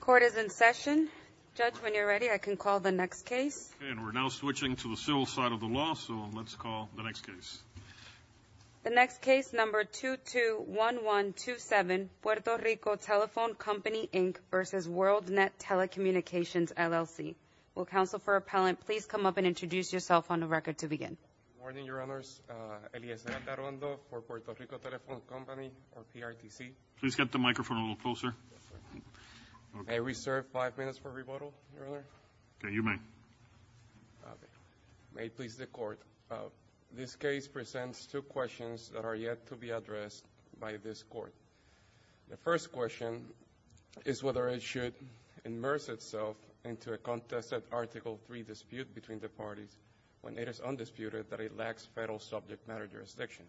Court is in session. Judge, when you're ready, I can call the next case. Okay, and we're now switching to the civil side of the law, so let's call the next case. The next case, number 221127, Puerto Rico Telephone Company, Inc. v. Worldnet Telecommunications, LLC. Will counsel for appellant please come up and introduce yourself on the record to begin. Good morning, Your Honors. Eliezer Matarondo for Puerto Rico Telephone Company, or PRTC. Please get the microphone a little closer. May I reserve five minutes for rebuttal, Your Honor? Okay, you may. May it please the Court. This case presents two questions that are yet to be addressed by this Court. The first question is whether it should immerse itself into a contested Article III dispute between the parties when it is undisputed that it lacks federal subject matter jurisdiction.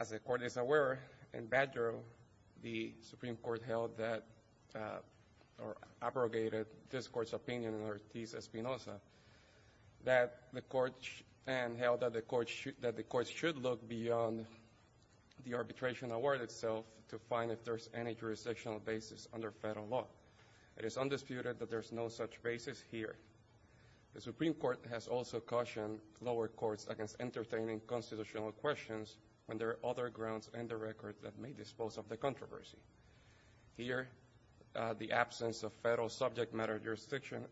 As the Court is aware, in Badger, the Supreme Court held that, or abrogated this Court's opinion in Ortiz-Espinosa, that the Court should look beyond the arbitration award itself to find if there's any jurisdictional basis under federal law. It is undisputed that there's no such basis here. The Supreme Court has also cautioned lower courts against entertaining constitutional questions when there are other grounds in the record that may dispose of the controversy. Here, the absence of federal subject matter jurisdiction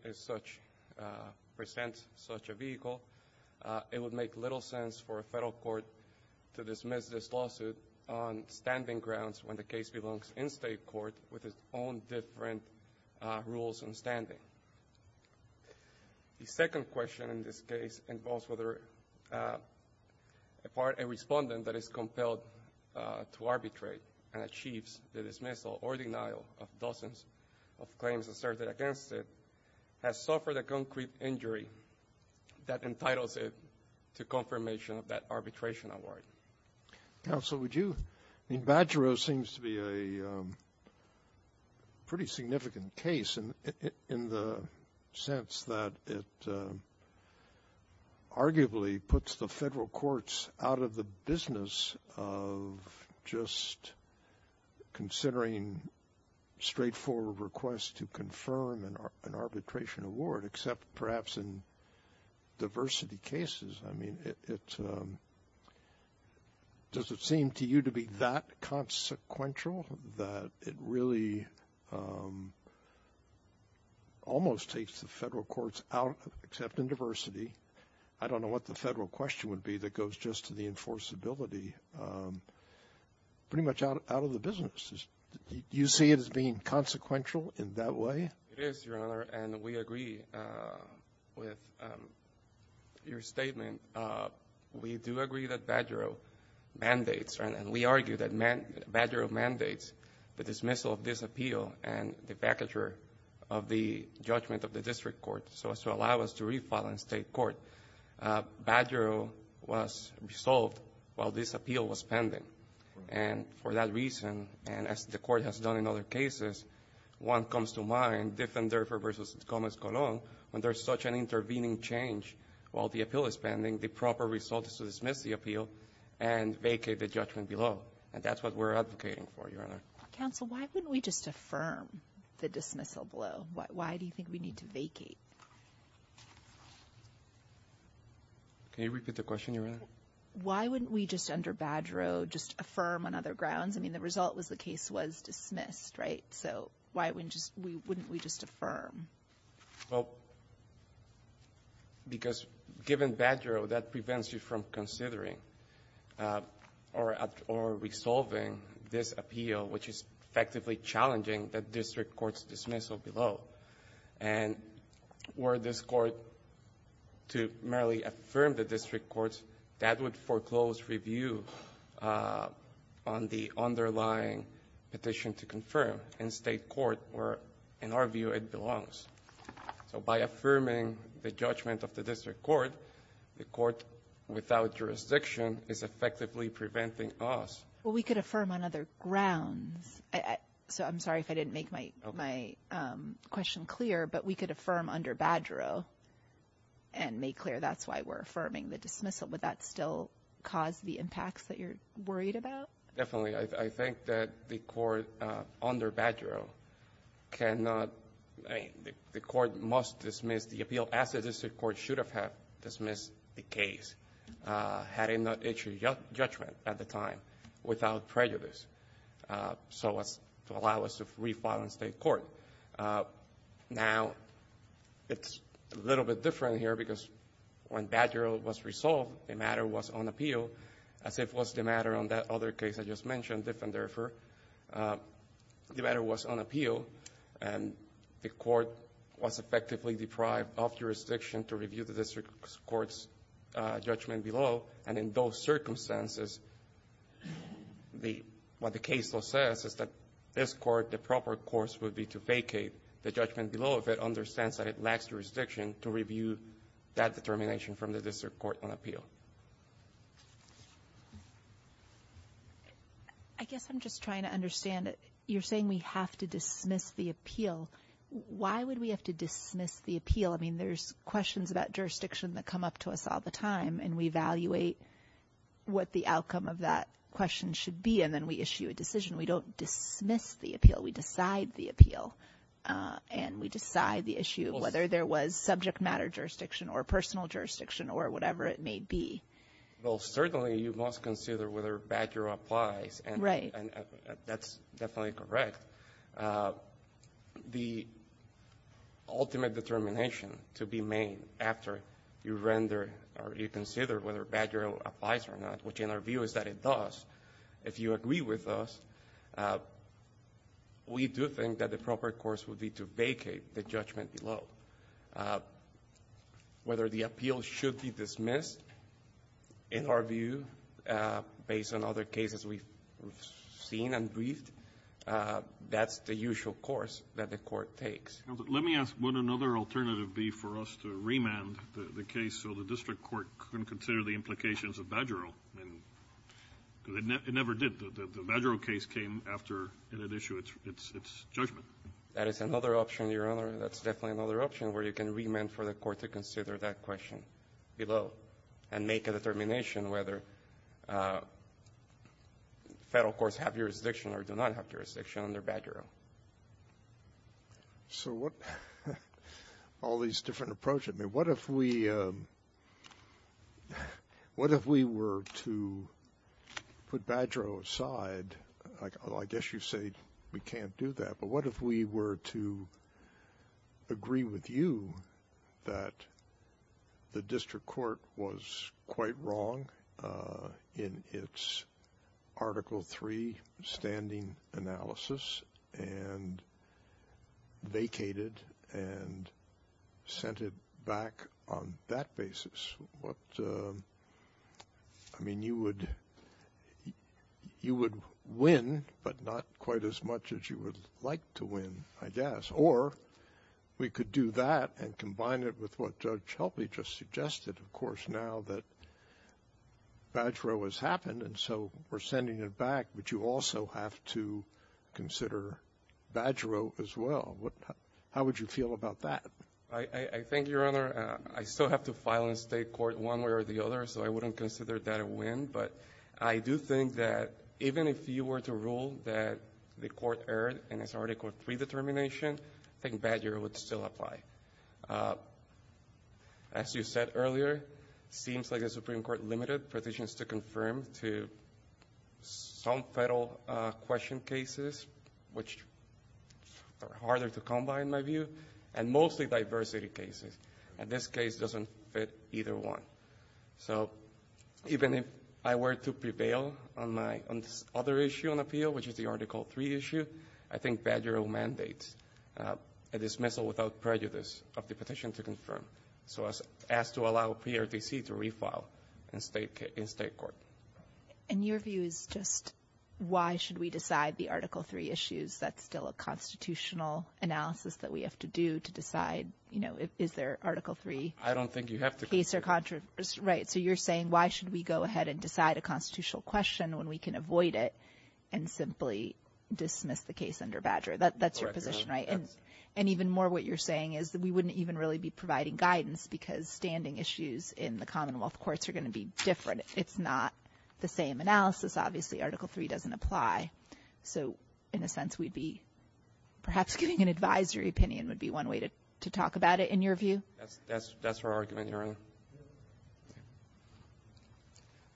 presents such a vehicle. It would make little sense for a federal court to dismiss this lawsuit on standing grounds when the case belongs in state court with its own different rules on standing. The second question in this case involves whether a respondent that is compelled to arbitrate and achieves the dismissal or denial of dozens of claims asserted against it has suffered a concrete injury that entitles it to confirmation of that arbitration award. Counsel, would you? I mean, Badger seems to be a pretty significant case in the sense that it arguably puts the federal courts out of the business of just considering straightforward requests to confirm an arbitration award, except perhaps in diversity cases. I mean, does it seem to you to be that consequential that it really almost takes the federal courts out, except in diversity? I don't know what the federal question would be that goes just to the enforceability. Pretty much out of the business. Do you see it as being consequential in that way? It is, Your Honor, and we agree with your statement. We do agree that Badger mandates, and we argue that Badger mandates, the dismissal of this appeal and the vacatur of the judgment of the district court so as to allow us to refile in state court. Badger was resolved while this appeal was pending. And for that reason, and as the court has done in other cases, one comes to mind, Diffender v. Gomez-Colón, when there's such an intervening change while the appeal is pending, the proper result is to dismiss the appeal and vacate the judgment below. And that's what we're advocating for, Your Honor. Counsel, why wouldn't we just affirm the dismissal below? Why do you think we need to vacate? Can you repeat the question, Your Honor? Why wouldn't we just, under Badger, just affirm on other grounds? I mean, the result was the case was dismissed, right? So why wouldn't we just affirm? Well, because given Badger, that prevents you from considering or resolving this appeal, which is effectively challenging the district court's dismissal below. And were this court to merely affirm the district court, that would foreclose review on the underlying petition to confirm in state court where, in our view, it belongs. So by affirming the judgment of the district court, the court without jurisdiction is effectively preventing us. Well, we could affirm on other grounds. I'm sorry if I didn't make my question clear, but we could affirm under Badger and make clear that's why we're affirming the dismissal. Would that still cause the impacts that you're worried about? Definitely. I think that the court under Badger cannot, I mean, the court must dismiss the appeal as the district court should have dismissed the case had it not issued judgment at the time without prejudice. So as to allow us to refile in state court. Now, it's a little bit different here because when Badger was resolved, the matter was on appeal, as it was the matter on that other case I just mentioned, Diffenderfer. The matter was on appeal, and the court was effectively deprived of jurisdiction to review the district court's judgment below. And in those circumstances, what the case still says is that this court, the proper course would be to vacate the judgment below if it understands that it lacks jurisdiction to review that determination from the district court on appeal. I guess I'm just trying to understand. You're saying we have to dismiss the appeal. Why would we have to dismiss the appeal? I mean, there's questions about jurisdiction that come up to us all the time, and we evaluate what the outcome of that question should be, and then we issue a decision. We don't dismiss the appeal. We decide the appeal, and we decide the issue, whether there was subject matter jurisdiction or personal jurisdiction or whatever it may be. Well, certainly you must consider whether Badger applies, and that's definitely correct. The ultimate determination to be made after you render or you consider whether Badger applies or not, which in our view is that it does, if you agree with us, we do think that the proper course would be to vacate the judgment below. Whether the appeal should be dismissed, in our view, based on other cases we've seen and briefed, that's the usual course that the court takes. Let me ask, would another alternative be for us to remand the case so the district court can consider the implications of Badger? It never did. The Badger case came after it had issued its judgment. That is another option, Your Honor. That's definitely another option where you can remand for the court to consider that question below and make a determination whether federal courts have jurisdiction or do not have jurisdiction under Badger. All these different approaches. What if we were to put Badger aside? I guess you say we can't do that, but what if we were to agree with you that the district court was quite wrong in its Article III standing analysis and vacated and sent it back on that basis? I mean, you would win, but not quite as much as you would like to win, I guess. Or we could do that and combine it with what Judge Shelby just suggested, of course, now that Badger has happened and so we're sending it back, but you also have to consider Badger as well. How would you feel about that? I think, Your Honor, I still have to file in state court one way or the other, so I wouldn't consider that a win, but I do think that even if you were to rule that the court erred in its Article III determination, I think Badger would still apply. As you said earlier, it seems like the Supreme Court limited petitions to confirm to some federal question cases, which are harder to combine, in my view, and mostly diversity cases, and this case doesn't fit either one. So even if I were to prevail on this other issue on appeal, which is the Article III issue, I think Badger will mandate a dismissal without prejudice of the petition to confirm, so as to allow PRTC to refile in state court. And your view is just why should we decide the Article III issues? That's still a constitutional analysis that we have to do to decide, you know, is there an Article III case or controversy? I don't think you have to. Right, so you're saying why should we go ahead and decide a constitutional question when we can avoid it and simply dismiss the case under Badger? That's your position, right? And even more what you're saying is that we wouldn't even really be providing guidance because standing issues in the Commonwealth courts are going to be different. It's not the same analysis. Obviously, Article III doesn't apply. So in a sense, perhaps giving an advisory opinion would be one way to talk about it, in your view? That's our argument, Your Honor.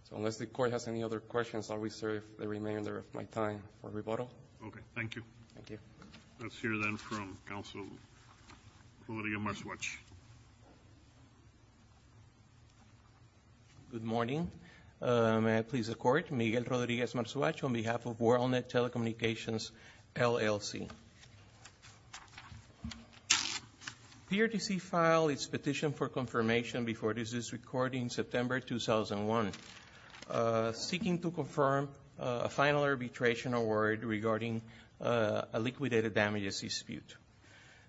So unless the Court has any other questions, I'll reserve the remainder of my time for rebuttal. Okay, thank you. Thank you. Let's hear then from Counselor Rodríguez-Marzouach. Good morning. May I please the Court, Miguel Rodríguez-Marzouach, on behalf of WorldNet Telecommunications, LLC. PRTC file its petition for confirmation before this is recorded in September 2001. Seeking to confirm a final arbitration award regarding a liquidated damages dispute.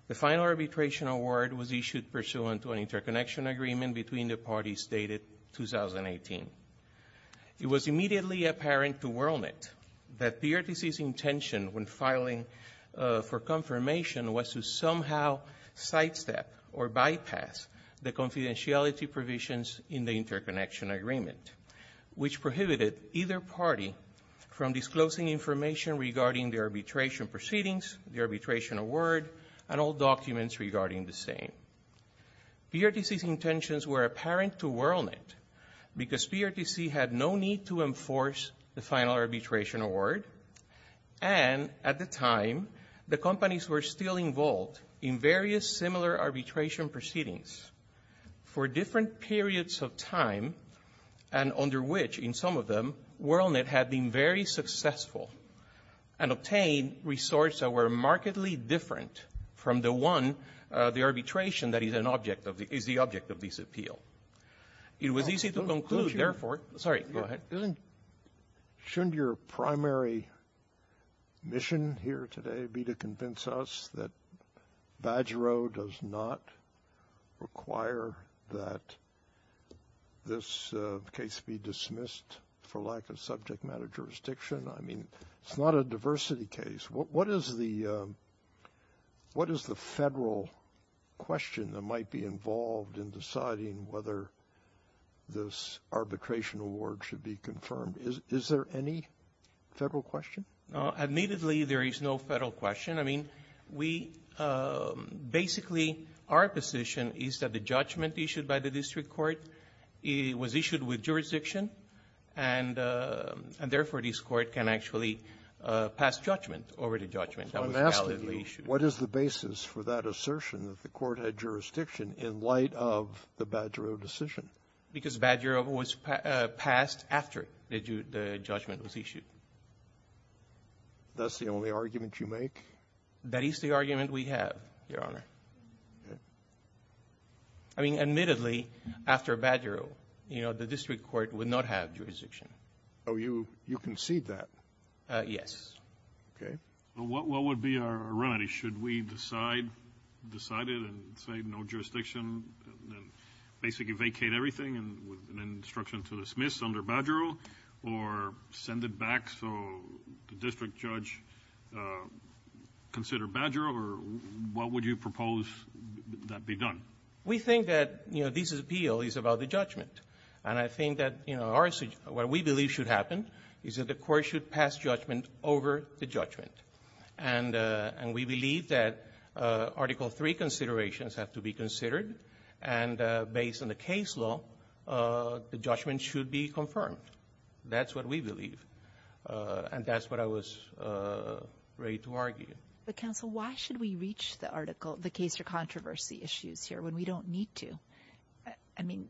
The final arbitration award was issued pursuant to an interconnection agreement between the parties dated 2018. It was immediately apparent to WorldNet that PRTC's intention when filing for confirmation was to somehow sidestep or bypass the confidentiality provisions in the interconnection agreement, which prohibited either party from disclosing information regarding the arbitration proceedings, the arbitration award, and all documents regarding the same. PRTC's intentions were apparent to WorldNet because PRTC had no need to enforce the final arbitration award, and at the time, the companies were still involved in various similar arbitration proceedings for different periods of time, and under which, in some of them, WorldNet had been very successful and obtained resources that were markedly different from the one, the arbitration, that is the object of this appeal. It was easy to conclude, therefore... Sorry, go ahead. Shouldn't your primary mission here today be to convince us that BadgerO does not require that this case be dismissed for lack of subject matter jurisdiction? I mean, it's not a diversity case. What is the federal question that might be involved in deciding whether this arbitration award should be confirmed? Is there any federal question? Admittedly, there is no federal question. I mean, we basically, our position is that the judgment issued by the district court was issued with jurisdiction, and therefore, this court can actually pass judgment over the judgment that was validly issued. I'm asking you, what is the basis for that assertion that the court had jurisdiction in light of the BadgerO decision? Because BadgerO was passed after the judgment was issued. That's the only argument you make? That is the argument we have, Your Honor. Okay. I mean, admittedly, after BadgerO, you know, the district court would not have jurisdiction. Oh, you concede that? Yes. Okay. Well, what would be our remedy? Should we decide, decide it and say no jurisdiction and basically vacate everything and with an instruction to dismiss under BadgerO or send it back so the district judge consider BadgerO, or what would you propose that be done? We think that, you know, this appeal is about the judgment. And I think that, you know, what we believe should happen is that the court should pass judgment over the judgment. And we believe that Article III considerations have to be considered. And based on the case law, the judgment should be confirmed. That's what we believe. And that's what I was ready to argue. But, counsel, why should we reach the case or controversy issues here when we don't need to? I mean,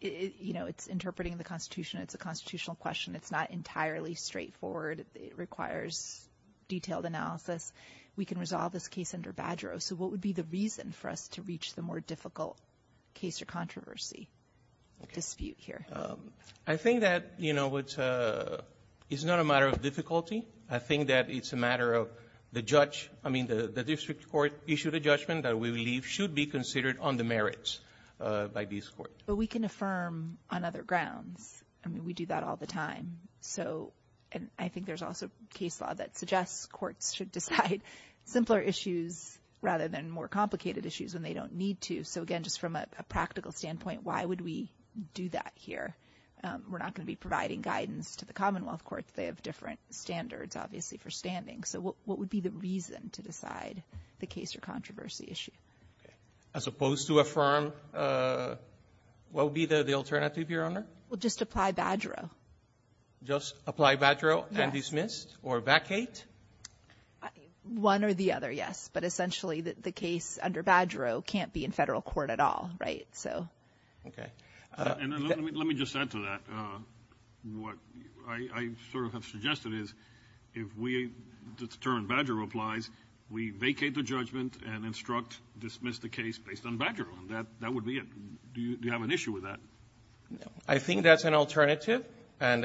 you know, it's interpreting the Constitution. It's a constitutional question. It's not entirely straightforward. It requires detailed analysis. We can resolve this case under BadgerO. So what would be the reason for us to reach the more difficult case or controversy dispute here? I think that, you know, it's not a matter of difficulty. I think that it's a matter of the judge. I mean, the district court issued a judgment that we believe should be considered on the merits by this court. But we can affirm on other grounds. I mean, we do that all the time. So I think there's also case law that suggests courts should decide simpler issues rather than more complicated issues when they don't need to. So, again, just from a practical standpoint, why would we do that here? We're not going to be providing guidance to the Commonwealth courts. They have different standards, obviously, for standing. So what would be the reason to decide the case or controversy issue? As opposed to affirm, what would be the alternative, Your Honor? Well, just apply BadgerO. Just apply BadgerO and dismiss or vacate? One or the other, yes. But essentially the case under BadgerO can't be in federal court at all, right? Okay. Let me just add to that. What I sort of have suggested is if we determine BadgerO applies, we vacate the judgment and instruct, dismiss the case based on BadgerO. That would be it. Do you have an issue with that? I think that's an alternative. You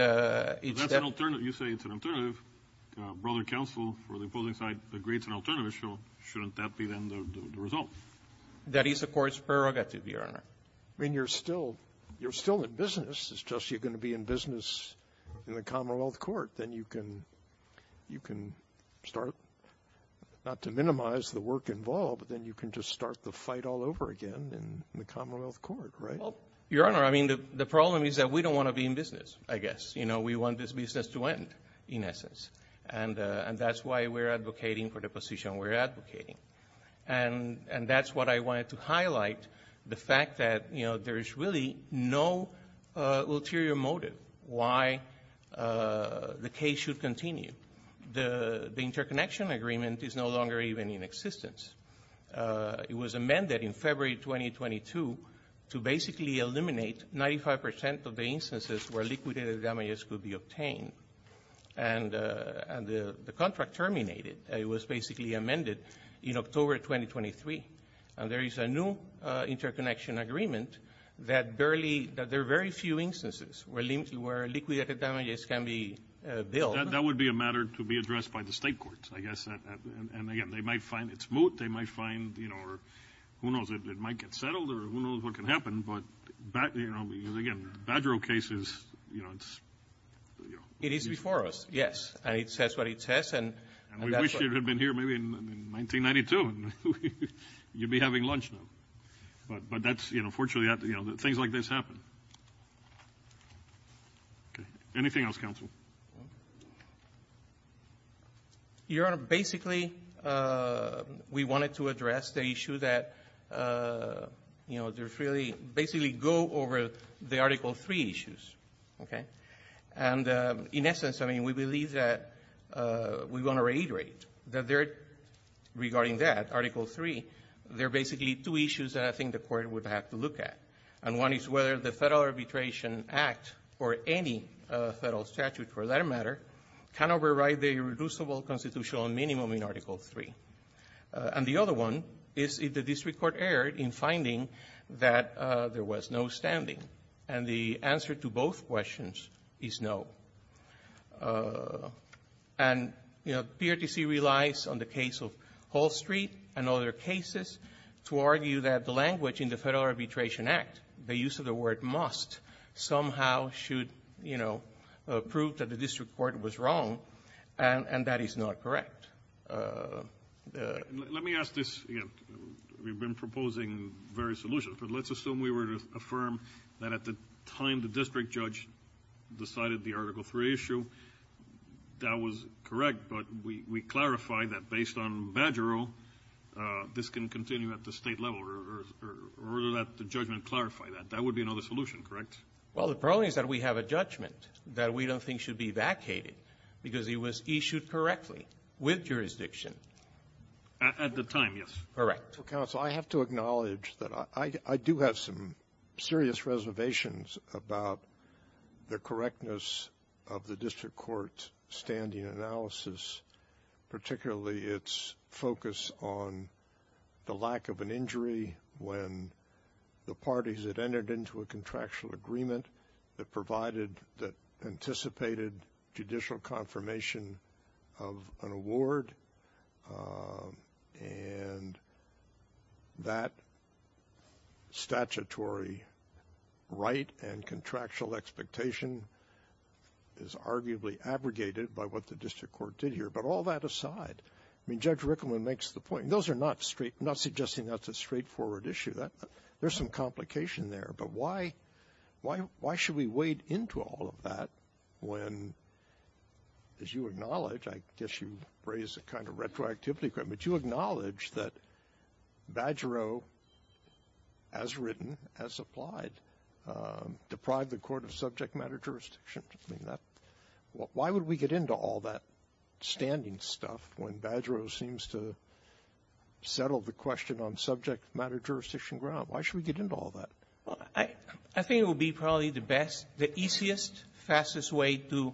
say it's an alternative. Brother counsel for the opposing side agrees it's an alternative. Shouldn't that be then the result? That is the court's prerogative, Your Honor. I mean, you're still in business. It's just you're going to be in business in the Commonwealth court. Then you can start not to minimize the work involved, but then you can just start the fight all over again in the Commonwealth court, right? Your Honor, I mean, the problem is that we don't want to be in business, I guess. You know, we want this business to end, in essence. And that's why we're advocating for the position we're advocating. And that's what I wanted to highlight, the fact that there's really no ulterior motive why the case should continue. The interconnection agreement is no longer even in existence. It was amended in February 2022 to basically eliminate 95% of the instances where liquidated damages could be obtained. And the contract terminated. It was basically amended in October 2023. And there is a new interconnection agreement that there are very few instances where liquidated damages can be billed. That would be a matter to be addressed by the state courts, I guess. And again, they might find it's moot. They might find, you know, or who knows, it might get settled or who knows what can happen. But, you know, again, Badger case is, you know, it's... It is before us, yes. And it says what it says. And we wish it had been here maybe in 1992. You'd be having lunch now. But that's, you know, fortunately, you know, things like this happen. Okay. Anything else, counsel? Your Honor, basically, we wanted to address the issue that, you know, there's really... Basically go over the Article III issues. Okay? And in essence, I mean, we believe that we want to reiterate that regarding that, Article III, there are basically two issues that I think the court would have to look at. And one is whether the Federal Arbitration Act or any federal statute for that matter can override the irreducible constitutional minimum in Article III. And the other one is if the district court erred in finding that there was no standing. And the answer to both questions is no. And, you know, PRTC relies on the case of Hall Street and other cases to argue that the language in the Federal Arbitration Act, the use of the word must, somehow should, you know, prove that the district court was wrong. And that is not correct. Let me ask this again. We've been proposing various solutions, but let's assume we were to affirm that at the time the district judge decided the Article III issue, that was correct, but we clarified that based on Badger O, this can continue at the state level or let the judgment clarify that. That would be another solution, correct? Well, the problem is that we have a judgment that we don't think should be vacated because it was issued correctly with jurisdiction at the time, yes. Counsel, I have to acknowledge that I do have some serious reservations about the correctness of the district court's standing analysis, particularly its focus on the lack of an injury when the parties that entered into a contractual agreement that provided, that anticipated judicial confirmation of an award and that statutory right and contractual expectation is arguably abrogated by what the district court did here. But all that aside, I mean, Judge Rickleman makes the point. Those are not suggesting that's a straightforward issue. There's some complication there. But why should we wade into all of that when, as you acknowledge, I guess you raise a kind of retroactivity, but you acknowledge that Badger O, as written, as applied, deprived the Court of Subject Matter Jurisdiction. Why would we get into all that standing stuff when Badger O seems to settle the question on subject matter jurisdiction ground? Why should we get into all that? Well, I think it would be probably the best, the easiest, fastest way to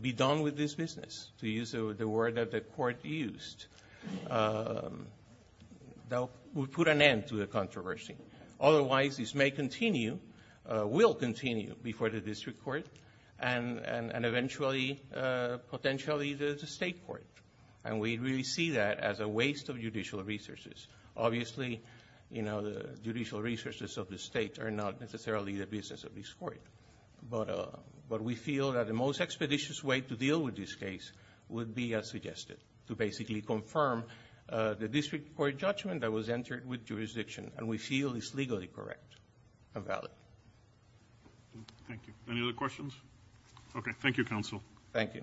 be done with this business, to use the word that the Court used. That would put an end to the controversy. Otherwise, this may continue, will continue before the district court and eventually, potentially, the state court. And we really see that as a waste of judicial resources. Obviously, the judicial resources of the state are not necessarily the business of this court. But we feel that the most expeditious way to deal with this case would be, as suggested, to basically confirm the district court judgment that was entered with jurisdiction. And we feel it's legally correct and valid. Thank you. Any other questions? Okay. Thank you, Counsel. Thank you.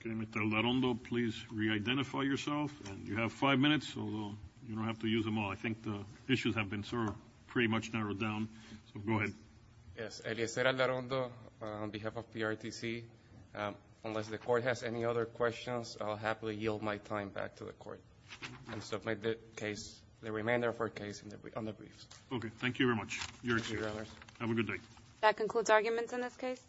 Okay. Mr. Aldarondo, please re-identify yourself. And you have five minutes, although you don't have to use them all. I think the issues have been sort of pretty much narrowed down. So, go ahead. Yes. Eliezer Aldarondo on behalf of PRTC. Unless the Court has any other questions, I'll happily yield my time back to the Court and submit the case, the remainder of our case, on the briefs. Okay. Thank you very much. You're excused. Thank you, Your Honors. Have a good day. That concludes arguments in this case.